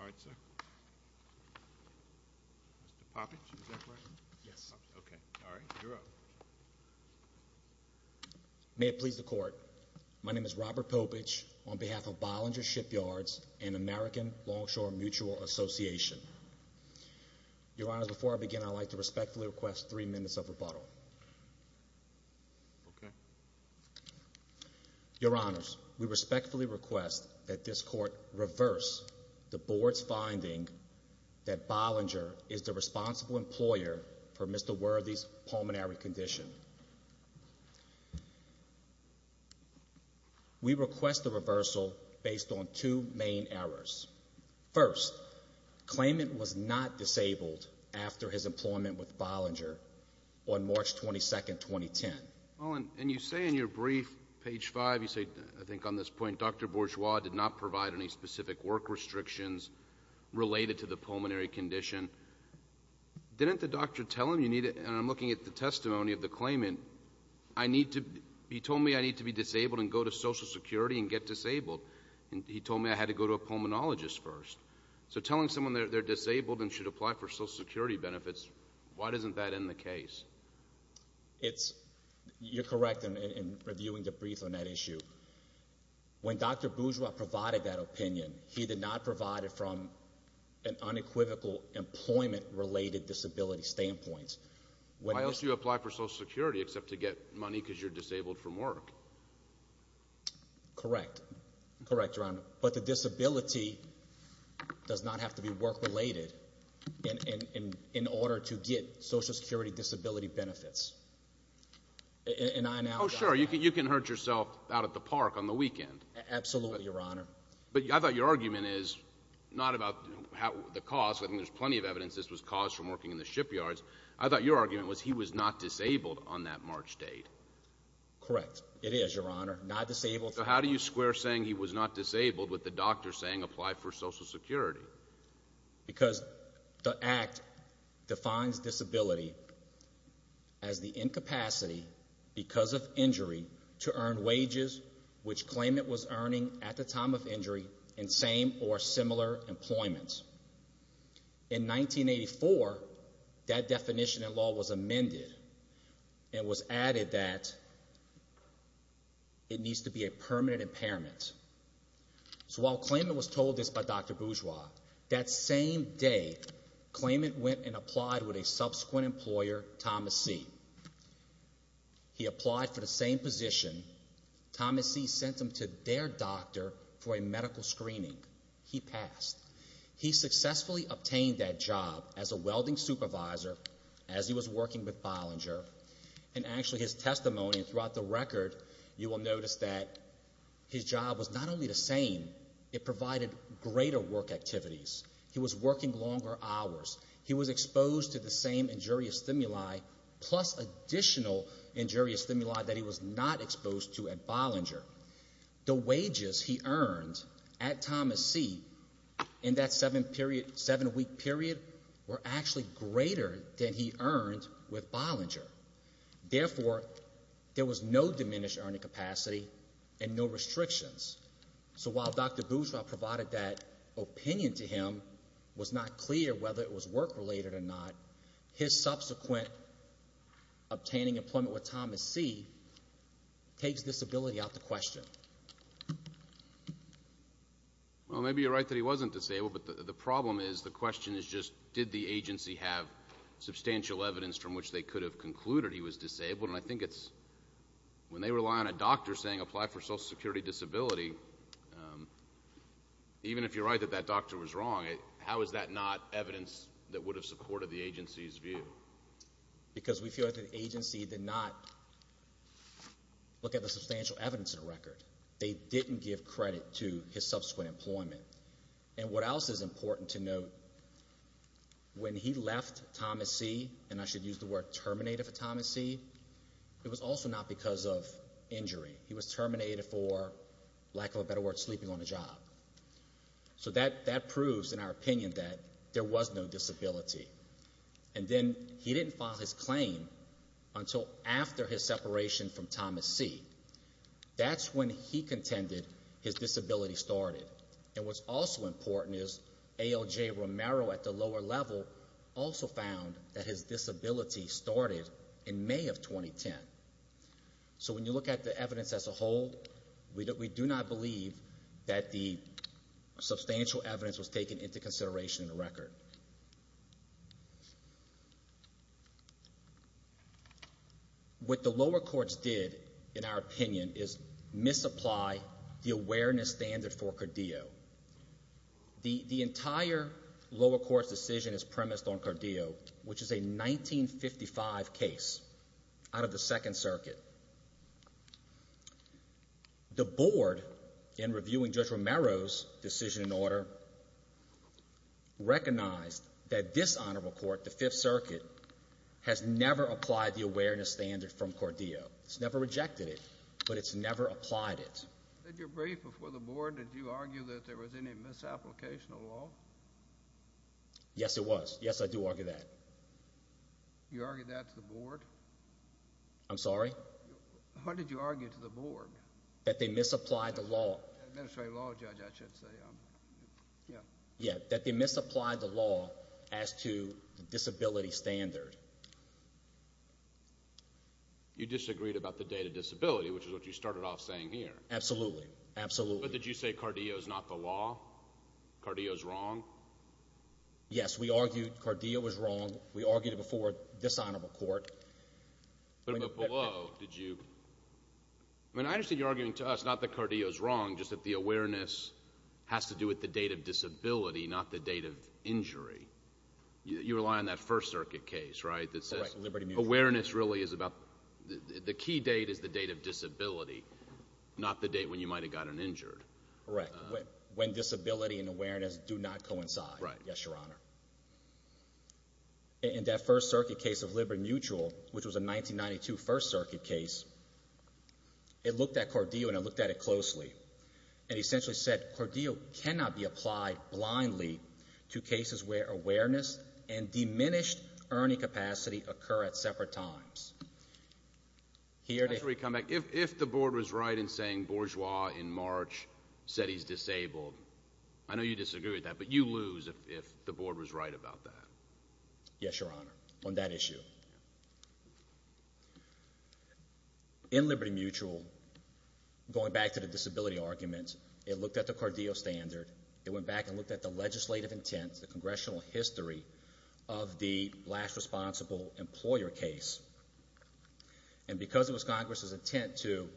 All right, sir. Mr. Poppins, is that correct? Yes. Okay. All right. You're up. May it please the Court, my name is Robert Poppins on behalf of Bollinger Shipyards and American Longshore Mutual Association. Your Honors, before I begin, I'd like to respectfully request three minutes of rebuttal. Okay. Your Honors, we respectfully request that this Court reverse the Board's finding that Bollinger is the responsible employer for Mr. Worthy's pulmonary condition. We request a reversal based on two main errors. First, claimant was not disabled after his employment with Bollinger on March 22, 2010. Well, and you say in your brief, page 5, you say, I think on this point, Dr. Bourgeois did not provide any specific work restrictions related to the pulmonary condition. Didn't the doctor tell him you needed, and I'm looking at the testimony of the claimant, I need to, he told me I need to be disabled and go to Social Security and get disabled. And he told me I had to go to a pulmonologist first. So telling someone they're disabled and should apply for Social Security benefits, why doesn't that end the case? It's, you're correct in reviewing the brief on that issue. When Dr. Bourgeois provided that opinion, he did not provide it from an unequivocal employment-related disability standpoint. Why else do you apply for Social Security except to get money because you're disabled from work? Correct. Correct, Your Honor. But the disability does not have to be work-related in order to get Social Security disability benefits. And I now. Oh, sure, you can hurt yourself out at the park on the weekend. Absolutely, Your Honor. But I thought your argument is not about the cost. I think there's plenty of evidence this was caused from working in the shipyards. I thought your argument was he was not disabled on that March date. Correct. It is, Your Honor, not disabled. So how do you square saying he was not disabled with the doctor saying apply for Social Security? Because the Act defines disability as the incapacity because of injury to earn wages which claimant was earning at the time of injury in same or similar employment. In 1984, that definition in law was amended and was added that it needs to be a permanent impairment. So while claimant was told this by Dr. Bourgeois, that same day, claimant went and applied with a subsequent employer, Thomas C. He applied for the same position. Thomas C. sent him to their doctor for a medical screening. He passed. He successfully obtained that job as a welding supervisor as he was working with Bollinger. And actually, his testimony throughout the record, you will notice that his job was not only the same, it provided greater work activities. He was working longer hours. He was exposed to the same injurious stimuli plus additional injurious stimuli that he was not exposed to at Bollinger. The wages he earned at Thomas C. in that seven week period were actually greater than he earned with Bollinger. Therefore, there was no diminished earning capacity and no restrictions. So while Dr. Bourgeois provided that opinion to him, it was not clear whether it was work related or not. His subsequent obtaining employment with Thomas C. takes disability out the question. Well, maybe you're right that he wasn't disabled, but the problem is the question is just did the agency have substantial evidence from which they could have concluded he was disabled? And I think it's when they rely on a doctor saying apply for social security disability, even if you're right that that doctor was wrong, how is that not evidence that would have supported the agency's view? Because we feel like the agency did not look at the substantial evidence in the record. They didn't give credit to his subsequent employment. And what else is important to note, when he left Thomas C., and I should use the word terminated for Thomas C., it was also not because of injury. He was terminated for lack of a better word, sleeping on the job. So that proves in our opinion that there was no disability. And then he didn't file his claim until after his separation from Thomas C. That's when he contended his disability started. And what's also important is ALJ Romero at the lower level also found that his disability started in May of 2010. So when you look at the evidence as a whole, we do not believe that the substantial evidence was taken into consideration in the record. What the lower courts did, in our opinion, is misapply the awareness standard for Cordeo. The entire lower court's decision is premised on Cordeo, which is a 1955 case out of the Second Circuit. The Board, in reviewing Judge Romero's decision and order, recognized that this Honorable Court, the Fifth Circuit, has never applied it. In your brief before the Board, did you argue that there was any misapplication of the law? Yes, it was. Yes, I do argue that. You argue that to the Board? I'm sorry? What did you argue to the Board? That they misapplied the law. Administrative law judge, I should say. Yeah. Yeah, that they misapplied the law as to disability standard. You disagreed about the date of disability, which is what you started off saying here. Absolutely. Absolutely. But did you say Cordeo's not the law? Cordeo's wrong? Yes, we argued Cordeo was wrong. We argued it before this Honorable Court. But below, did you? I mean, I understand you're arguing to us not that Cordeo's wrong, just that the awareness has to do with the date of disability, not the date of injury. You rely on that First Circuit case, right, that awareness really is about the key date is the date of disability, not the date when you might have gotten injured. Correct. When disability and awareness do not coincide. Right. Yes, Your Honor. In that First Circuit case of Libor Mutual, which was a 1992 First Circuit case, it looked at Cordeo and it looked at it closely. It essentially said Cordeo cannot be applied blindly to cases where awareness and diminished earning capacity occur at separate times. If the Board was right in saying Bourgeois in March said he's disabled, I know you disagree with that, but you lose if the Board was right about that. Yes, Your Honor, on that issue. In Liberty Mutual, going back to the disability argument, it looked at the Cordeo standard. It went back and looked at the legislative intent, the congressional history of the last responsible employer case, and because it was Congress's intent to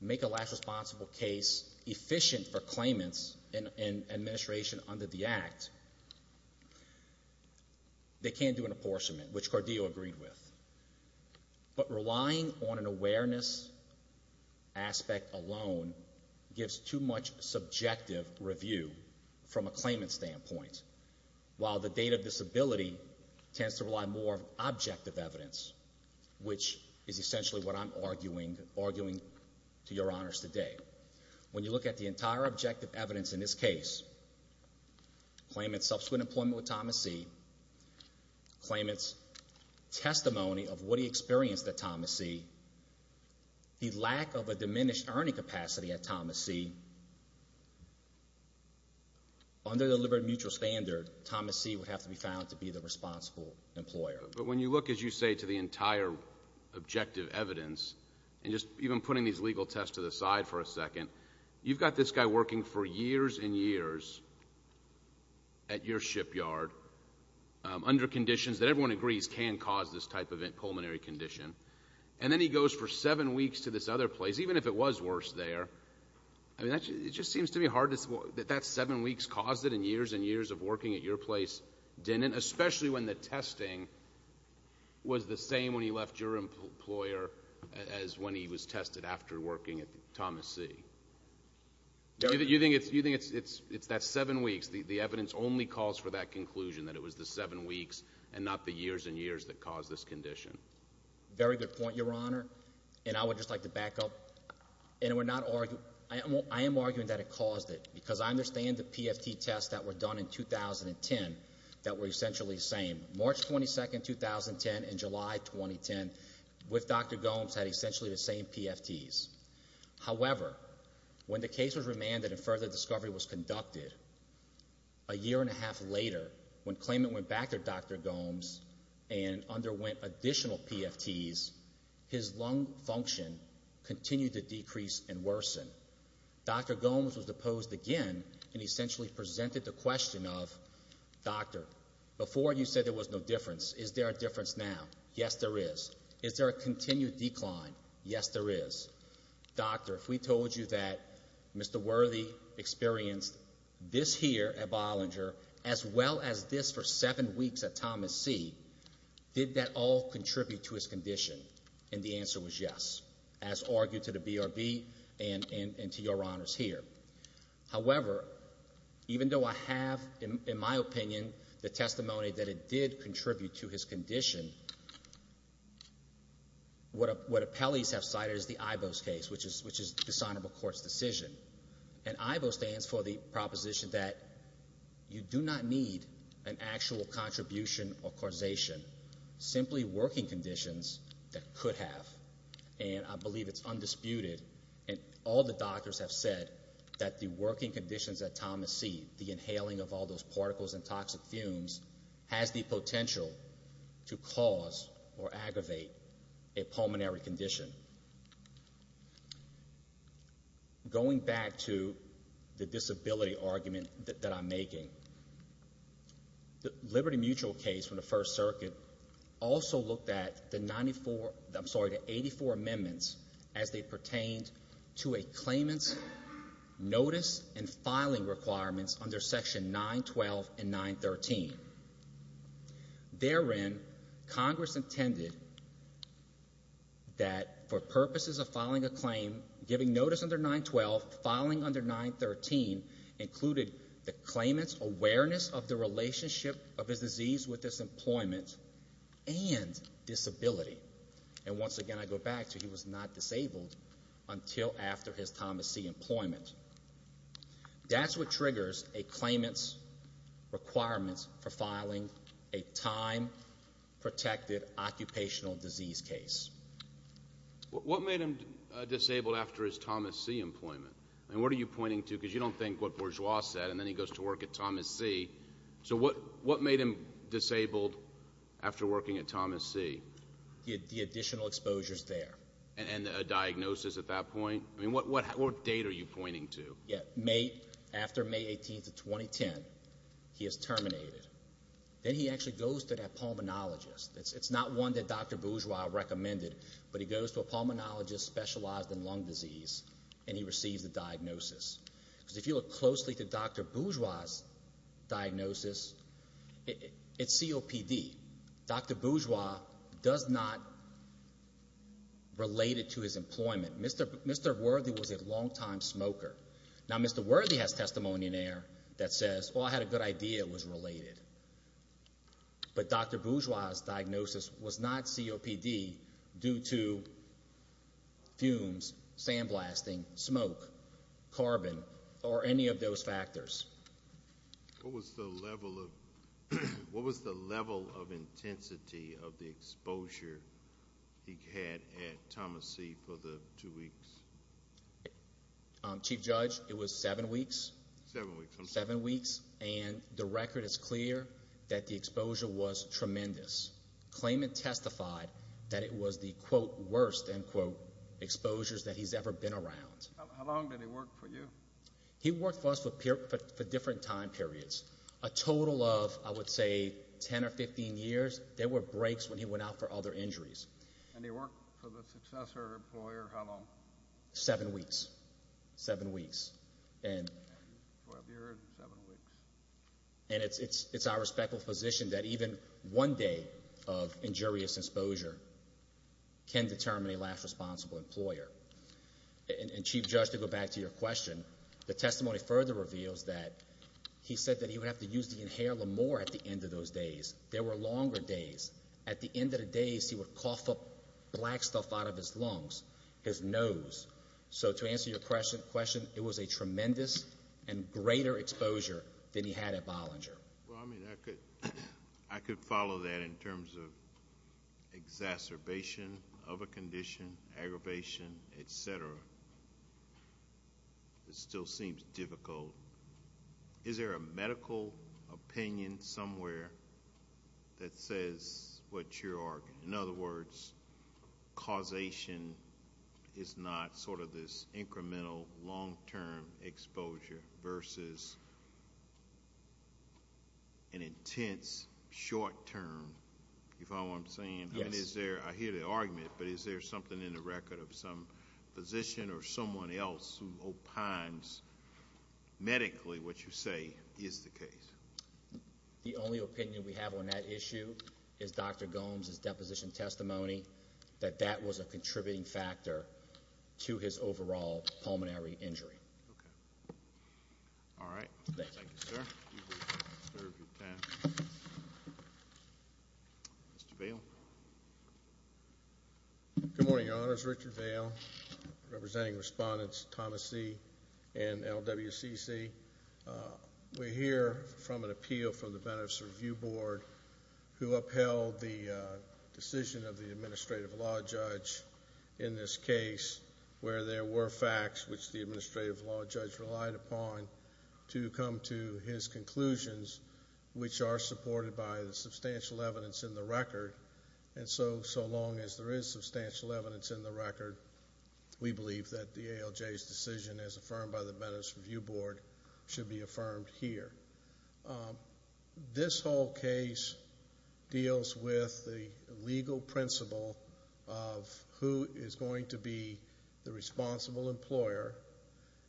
make a last responsible case efficient for claimants and administration under the Act, they can't do an apportionment, which Cordeo agreed with. But relying on an awareness aspect alone gives too much subjective review from a claimant standpoint, while the date of disability tends to rely more on objective evidence, which is essentially what I'm arguing to Your Honors today. When you look at the entire objective evidence in this case, claimant's subsequent employment with Thomas C., claimant's testimony of what he experienced at Thomas C., the lack of a diminished earning capacity at Thomas C., under the Liberty Mutual standard, Thomas C. would have to be found to be the responsible employer. But when you look, as you say, to the entire objective evidence, and just even putting these legal tests to the side for a second, you've got this guy working for years and years at your shipyard under conditions that everyone agrees can cause this type of pulmonary condition, and then he goes for seven weeks to this other force there. I mean, it just seems to be hard to say that that seven weeks caused it, and years and years of working at your place didn't, especially when the testing was the same when he left your employer as when he was tested after working at Thomas C. You think it's that seven weeks, the evidence only calls for that conclusion, that it was the seven weeks and not the years and years that caused this condition? Very good point, Your Honor, and I would just like to back up, and I am arguing that it caused it, because I understand the PFT tests that were done in 2010 that were essentially the same. March 22, 2010 and July 2010 with Dr. Gomes had essentially the same PFTs. However, when the case was remanded and further discovery was conducted, a year and a half later, when additional PFTs, his lung function continued to decrease and worsen. Dr. Gomes was deposed again and essentially presented the question of, Doctor, before you said there was no difference. Is there a difference now? Yes, there is. Is there a continued decline? Yes, there is. Doctor, if we told you that Mr. Worthy experienced this here at Bollinger as well as this for his condition, and the answer was yes, as argued to the BRB and to Your Honors here. However, even though I have, in my opinion, the testimony that it did contribute to his condition, what appellees have cited is the IBO's case, which is dishonorable court's decision, and IBO stands for the proposition that you do not need an actual contribution or causation, simply working conditions that could have, and I believe it's undisputed, and all the doctors have said that the working conditions that Thomas see, the inhaling of all those particles and toxic fumes, has the potential to cause or aggravate a pulmonary condition. Going back to the disability argument that I'm making, the Liberty Mutual case, from the First Circuit, also looked at the 94, I'm sorry, the 84 amendments as they pertained to a claimant's notice and filing requirements under Section 912 and 913. Therein, Congress intended that for purposes of filing a claim, giving notice under 912, filing under 913, included the claimant's awareness of the relationship of his disease with his employment and disability. And once again, I go back to he was not disabled until after his Thomas C. employment. That's what triggers a claimant's requirements for filing a time-protected occupational disease case. What made him disabled after his Thomas C. employment? And what are you pointing to? Because you don't think what Bourgeois said, and then he goes to work at Thomas C., so what made him disabled after working at Thomas C.? The additional exposures there. And a diagnosis at that point? I mean, what date are you pointing to? After May 18th of 2010, he is terminated. Then he actually goes to that pulmonologist. It's not one that Dr. Bourgeois recommended, but he goes to a pulmonologist specialized in lung disease, and he receives a diagnosis. If you look closely to Dr. Bourgeois' diagnosis, it's COPD. Dr. Bourgeois does not relate it to his employment. Mr. Worthy was a long-time smoker. Now Mr. Worthy has testimony in there that says, well, I had a good idea it was related. But Dr. Bourgeois' diagnosis was not COPD due to fumes, sandblasting, smoke, carbon, or any of those factors. What was the level of intensity of the exposure he had at Thomas C. for the two weeks? Chief Judge, it was seven weeks. Seven weeks. And the record is clear that the exposure was tremendous. Claimant testified that it was the, quote, worst, end quote, exposures that he's ever been around. How long did he work for you? He worked for us for different time periods. A total of, I would say, 10 or 15 years. There were breaks when he went out for other injuries. And he worked for the successor employer how long? Seven weeks. Seven weeks. And it's our respectful position that even one day of injurious exposure can determine a last responsible employer. And Chief Judge, to go back to your question, the testimony further reveals that he said that he would have to use the inhaler more at the end of those days. There were longer days. At the end of the days, he would cough up black stuff out of his lungs, his nose. So to answer your question, it was a tremendous and greater exposure than he had at Bollinger. I could follow that in terms of exacerbation of a condition, aggravation, etc. It still seems difficult. Is there a medical opinion somewhere that says what you're arguing? In general, is not sort of this incremental, long-term exposure versus an intense, short-term? You follow what I'm saying? Yes. I mean, is there, I hear the argument, but is there something in the record of some physician or someone else who opines medically what you say is the case? The only opinion we have on that issue is Dr. Gomes' deposition testimony that that was a contributing factor to his overall pulmonary injury. Okay. All right. Thank you, sir. Mr. Vail? Good morning, Your Honors. Richard Vail, representing Respondents Thomas C. and LWCC. We hear from the Benefits Review Board who upheld the decision of the Administrative Law Judge in this case where there were facts which the Administrative Law Judge relied upon to come to his conclusions, which are supported by the substantial evidence in the record. And so, so long as there is substantial evidence in the record, we believe that the ALJ's decision as affirmed by the judge, this whole case deals with the legal principle of who is going to be the responsible employer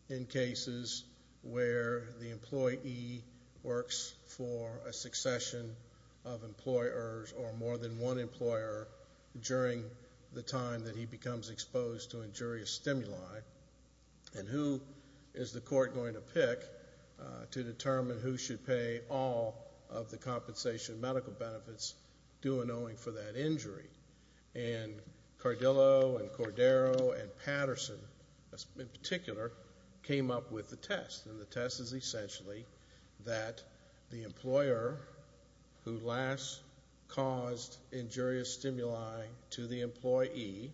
in cases where the employee works for a succession of employers or more than one employer during the time that he becomes exposed to injurious stimuli, and who is the employee for all of the compensation medical benefits due and owing for that injury. And Cardillo and Cordero and Patterson, in particular, came up with the test. And the test is essentially that the employer who last caused injurious stimuli to the employee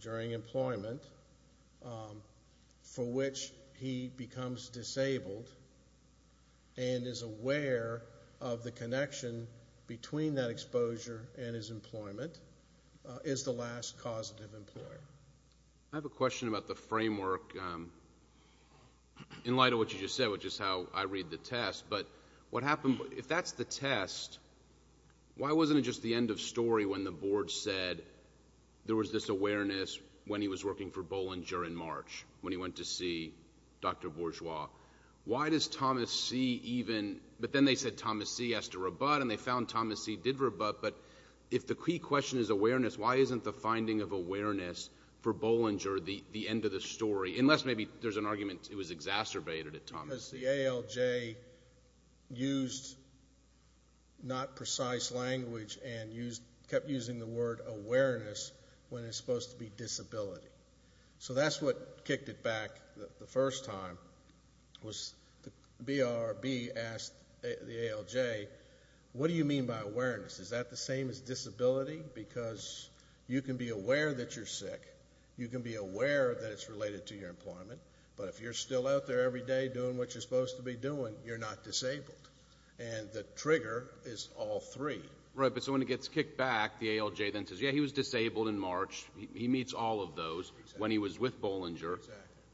during employment, for which he becomes disabled and is aware of the connection between that exposure and his employment, is the last causative employer. I have a question about the framework in light of what you just said, which is how I read the test. But what happened, if that's the test, why wasn't it just the end of story when the board said there was this awareness when he was working for Bollinger in March, when he went to see Dr. Bourgeois? Why does Thomas C. even, but then they said Thomas C. has to rebut, and they found Thomas C. did rebut, but if the key question is awareness, why isn't the finding of awareness for Bollinger the end of the story? Unless maybe there's an argument it was exacerbated at Thomas. It's the same as the ALJ used not precise language and kept using the word awareness when it's supposed to be disability. So that's what kicked it back the first time, was the BRB asked the ALJ, what do you mean by awareness? Is that the same as disability? Because you can be aware that you're sick, you can be aware that it's related to your employment, but if you're still out there every day doing what you're supposed to be doing, you're not disabled. And the trigger is all three. Right, but so when it gets kicked back, the ALJ then says, yeah, he was disabled in March. He meets all of those when he was with Bollinger.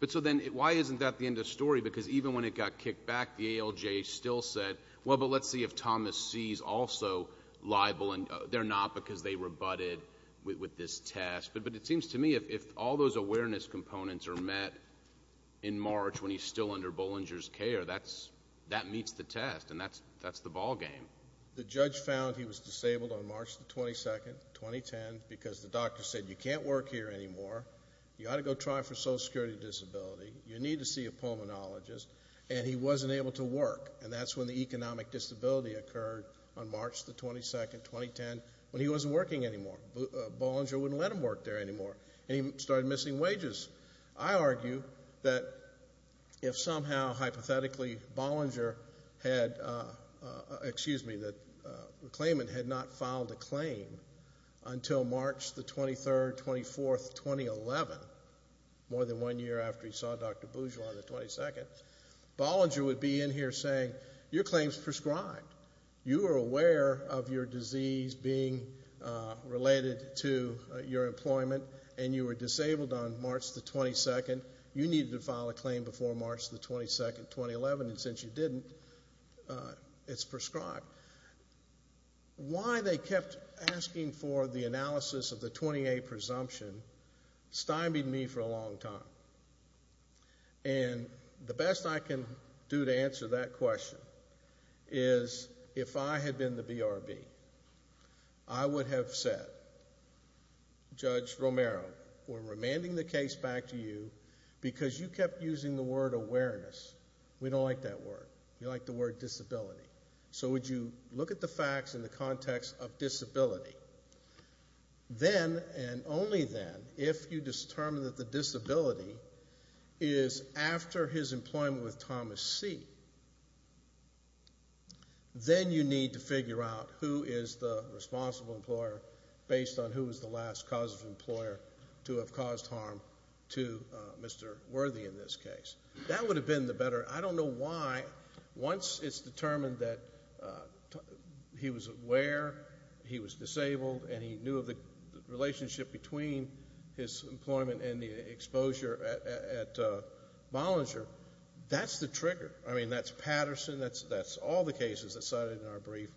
But so then, why isn't that the end of story? Because even when it got kicked back, the ALJ still said, well, but let's see if Thomas C. is also liable, and they're not because they rebutted with this test. But it seems to me, if all those awareness components are met in March when he's still under Bollinger's care, that meets the test, and that's the ballgame. The judge found he was disabled on March the 22nd, 2010, because the doctor said, you can't work here anymore. You ought to go try for social security disability. You need to see a pulmonologist. And he wasn't able to work, and that's when the economic disability occurred on March the 22nd, 2010, when he wasn't working anymore. Bollinger wouldn't let him work there anymore, and he started missing wages. I argue that if somehow, hypothetically, Bollinger had, excuse me, the claimant had not filed a claim until March the 23rd, 24th, 2011, more than one year after he saw Dr. Bourgeois on the 22nd, Bollinger would be in here saying, your claim's prescribed. You are aware of your disease being related to your employment, and you were disabled on March the 22nd. You needed to file a claim before March the 22nd, 2011, and since you didn't, it's prescribed. Why they kept asking for the analysis of the 20A presumption stymied me for a long time. And the best I can do to answer that question is, if I had been the BRB, I would have said, Judge Romero, we're remanding the case back to you because you kept using the word awareness. We don't like that word. We like the word disability. So would you look at the facts in the context of disability? Then, and only then, if you determine that the disability is after his employment with Thomas C., then you need to figure out who is the responsible employer based on who was the last cause of employer to have caused harm to Mr. Worthy in this case. That would have been the better. I don't know why, once it's determined that he was aware, he was disabled, and he knew of the relationship between his employment and the exposure at Bollinger, that's the trigger. I mean, that's Patterson. That's all the cases that cited in our brief.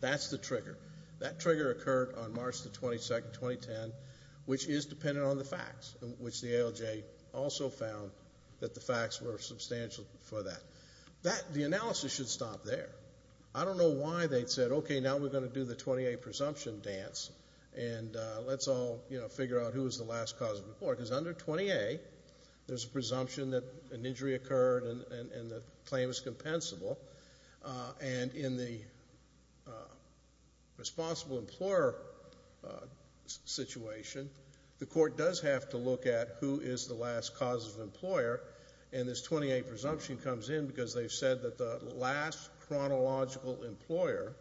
That's the trigger. That trigger occurred on March the 22nd, 2010, which is dependent on the facts, which the ALJ also found that the facts were substantial for that. That, the analysis should stop there. I don't know why they'd said, okay, now we're going to do the 20A presumption dance, and let's all, you know, figure out who was the last cause of employer. Because under 20A, there's a presumption that an injury occurred and the claim is compensable. And in the responsible employer situation, the court does have to look at who is the last cause of employer, and this 20A presumption comes in because they've said that the last chronological employer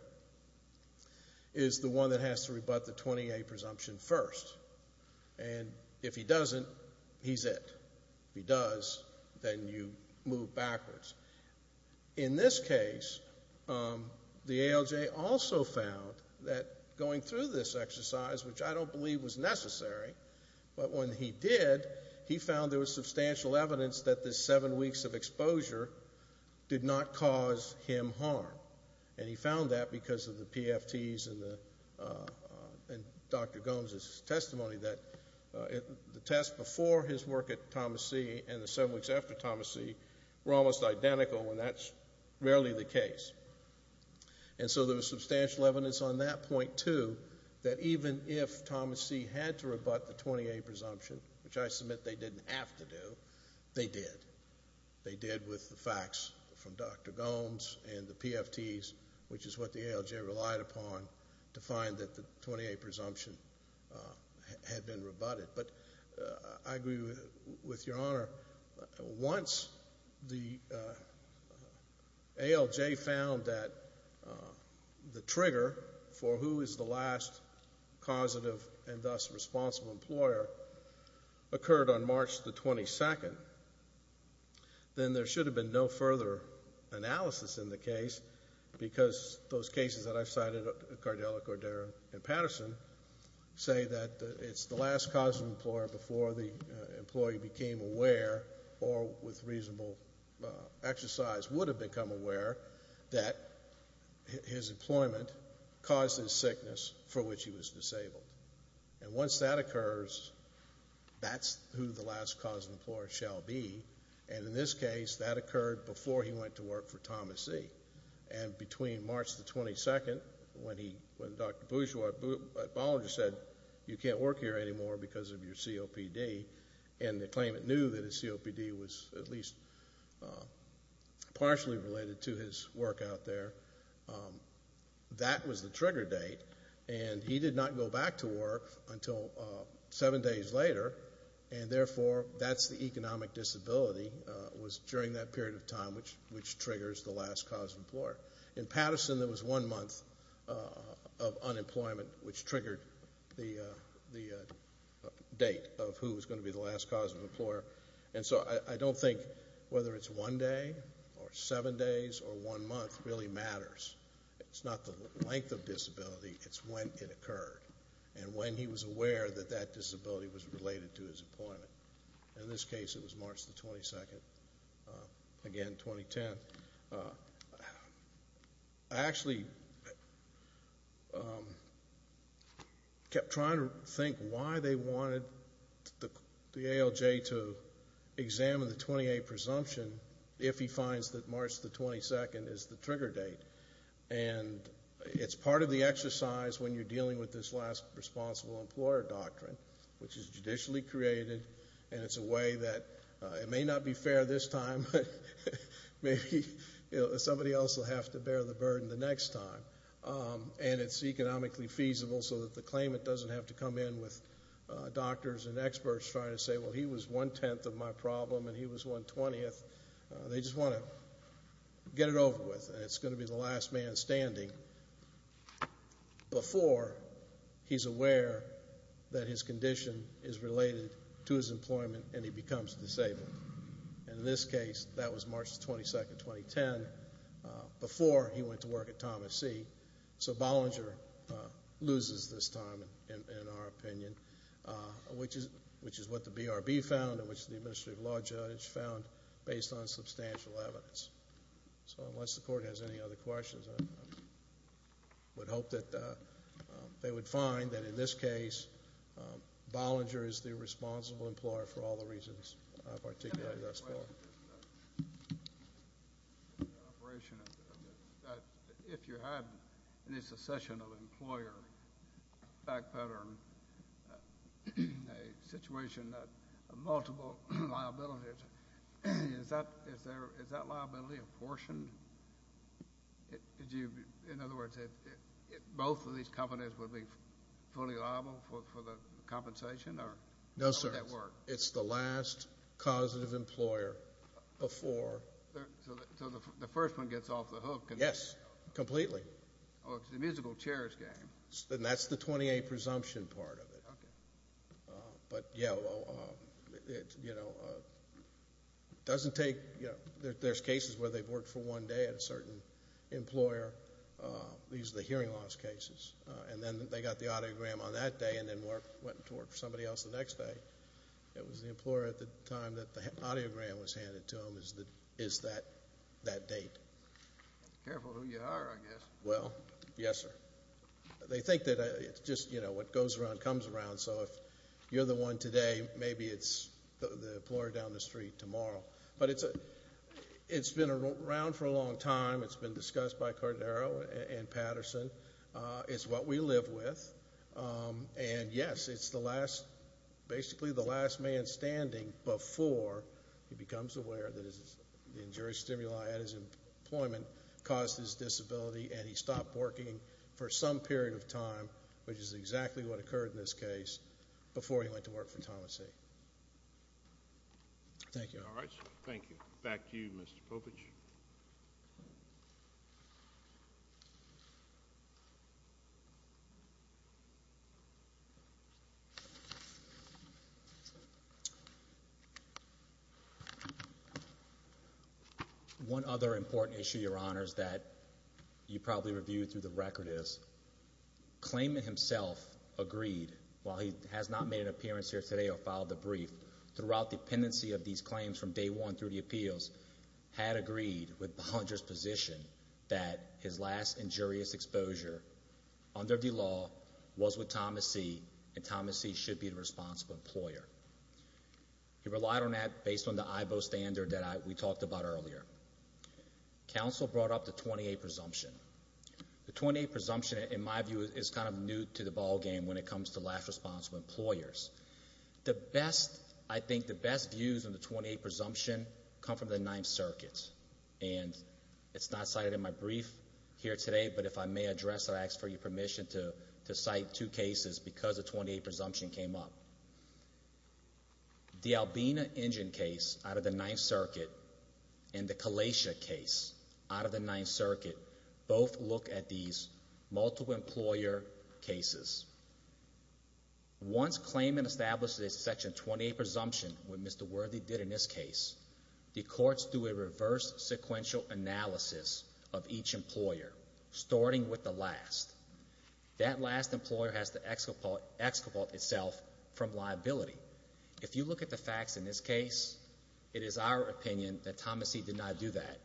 is the one that has to rebut the 20A presumption first. And if he doesn't, he's it. If he does, then you move backwards. In this case, the ALJ also found that going through this exercise, which I don't believe was necessary, but when he did, he found there was substantial evidence that this seven weeks of exposure did not cause him harm. And he found that because of the PFTs and Dr. Gomes' testimony that the test before his work at Thomas C. and the seven weeks after Thomas C. were almost identical, and that's rarely the case. And so there was substantial evidence on that point, too, that even if Thomas C. had to rebut the 20A presumption, which I submit they didn't have to do, they did. They did with the facts from Dr. Gomes and the PFTs, which is what the ALJ relied upon to find that the 20A presumption had been rebutted. But I agree with Your Honor. Once the ALJ found that the trigger for who is the last causative and thus responsible employer occurred on March the 22nd, then there should have been no further analysis in the case because those cases that I've cited, Cardell, Cordero, and Patterson, say that it's the last causative employer before the employee became aware or with reasonable exercise would have become aware that his employment caused his sickness for which he was disabled. And once that occurs, that's who the last causative employer shall be. And in this case, that occurred before he went to work for Thomas C. And between March the 22nd, when Dr. Bollinger said, you can't work here anymore because of your COPD, and the claimant knew that his COPD was at related to his work out there, that was the trigger date. And he did not go back to work until seven days later. And therefore, that's the economic disability was during that period of time which triggers the last causative employer. In Patterson, there was one month of unemployment which triggered the date of who was going to be the last causative employer. And so, I don't think whether it's one day or seven days or one month really matters. It's not the length of disability, it's when it occurred and when he was aware that that disability was related to his employment. In this case, it was March the 22nd, again, for BLJ to examine the 28 presumption if he finds that March the 22nd is the trigger date. And it's part of the exercise when you're dealing with this last responsible employer doctrine which is judicially created and it's a way that it may not be fair this time, but maybe somebody else will have to bear the burden the next time. And it's economically feasible so that the claimant doesn't have to come in with doctors and experts trying to say, well, he was one-tenth of my problem and he was one-twentieth. They just want to get it over with and it's going to be the last man standing before he's aware that his condition is related to his employment and he becomes disabled. And in this case, that was March the 22nd, 2010, before he went to work at Thomas C. So, Bollinger loses this time, in our opinion, which is what the BRB found and which the Administrative Law Judge found based on substantial evidence. So, unless the Court has any other questions, I would hope that they would find that in this case, Bollinger is the responsible employer for all the reasons I've articulated thus far. If you had a secession of an employer, a back pattern, a situation of multiple liabilities, is that liability apportioned? In other words, both of these companies would be fully liable for the compensation? No, sir. How would that work? It's the last causative employer before. So, the first one gets off the hook? Yes, completely. Oh, it's the musical chairs game. And that's the 28 presumption part of it. Okay. But, yeah, well, you know, it doesn't take, you know, there's cases where they've worked for one day at a certain employer. These are the hearing loss cases. And then they got the audiogram on that day and then went to work for somebody else the next day. It was the employer at the time that the audiogram was handed to them is that date. Careful who you hire, I guess. Well, yes, sir. They think that it's just, you know, what goes around comes around. So, if you're the one today, maybe it's the employer down the street tomorrow. But it's been around for a long time. It's been discussed by Cordero and Patterson. It's what we live with. And, yes, it's the last, basically the last man standing before he becomes aware that the injury stimuli at his employment caused his disability and he stopped working for some period of time, which is exactly what occurred in this case, before he went to work for Thomas A. Thank you. All right. Thank you. Back to you, Mr. Popich. One other important issue, Your Honors, that you probably reviewed through the record is claimant himself agreed, while he has not made an appearance here today or filed a brief, throughout the pendency of these claims from day one through the appeals, had agreed with Bollinger's position that his last injurious exposure under the law was with Thomas C. And Thomas C. should be the responsible employer. He relied on that based on the IBO standard that we talked about earlier. Counsel brought up the 28 presumption. The 28 presumption, in my view, is kind of new to the ballgame when it comes to last responsible employers. The best, I think, the best views on the 28 presumption come from the Ninth Circuit. And it's not cited in my brief here today, but if I may address that, I ask for your permission to cite two cases because the 28 presumption came up. The Albina Engine case out of the Ninth Circuit and the Kalacia case out of the Ninth Circuit both look at these multiple employer cases. Once claimant establishes a Section 28 presumption, what Mr. Worthy did in this case, the courts do a reverse sequential analysis of each employer, starting with the last. That last employer has to excapolate itself from liability. If you look at the facts in this case, it is our opinion that Thomas C. did not do that.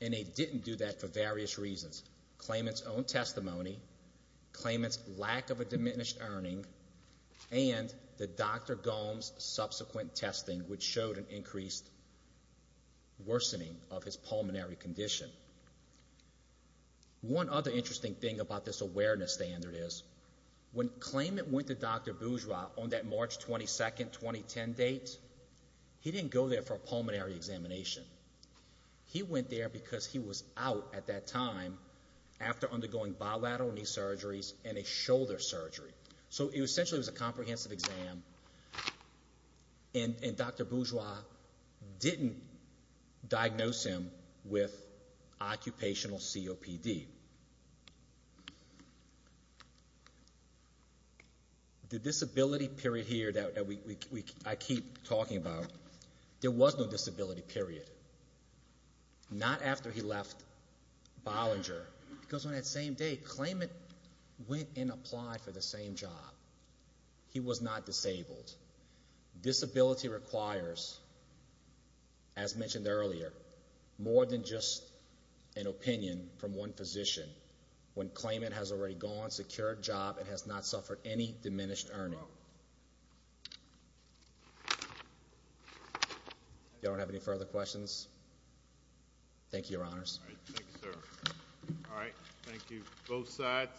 And he didn't do that for various reasons. Claimant's own testimony, claimant's lack of a diminished earning, and the Dr. Gohm's subsequent testing, which showed an increased worsening of his pulmonary condition. One other interesting thing about this awareness standard is when claimant went to Dr. Bourgeois on that March 22, 2010 date, he didn't go there for a pulmonary at that time after undergoing bilateral knee surgeries and a shoulder surgery. So essentially it was a comprehensive exam, and Dr. Bourgeois didn't diagnose him with occupational COPD. The disability period here that I keep talking about, there was no disability period. Not after he left Bollinger, because on that same day, claimant went and applied for the same job. He was not disabled. Disability requires, as mentioned earlier, more than just an opinion from one physician. When claimant has already gone, secured a job, and has not All right. Thank you, both sides.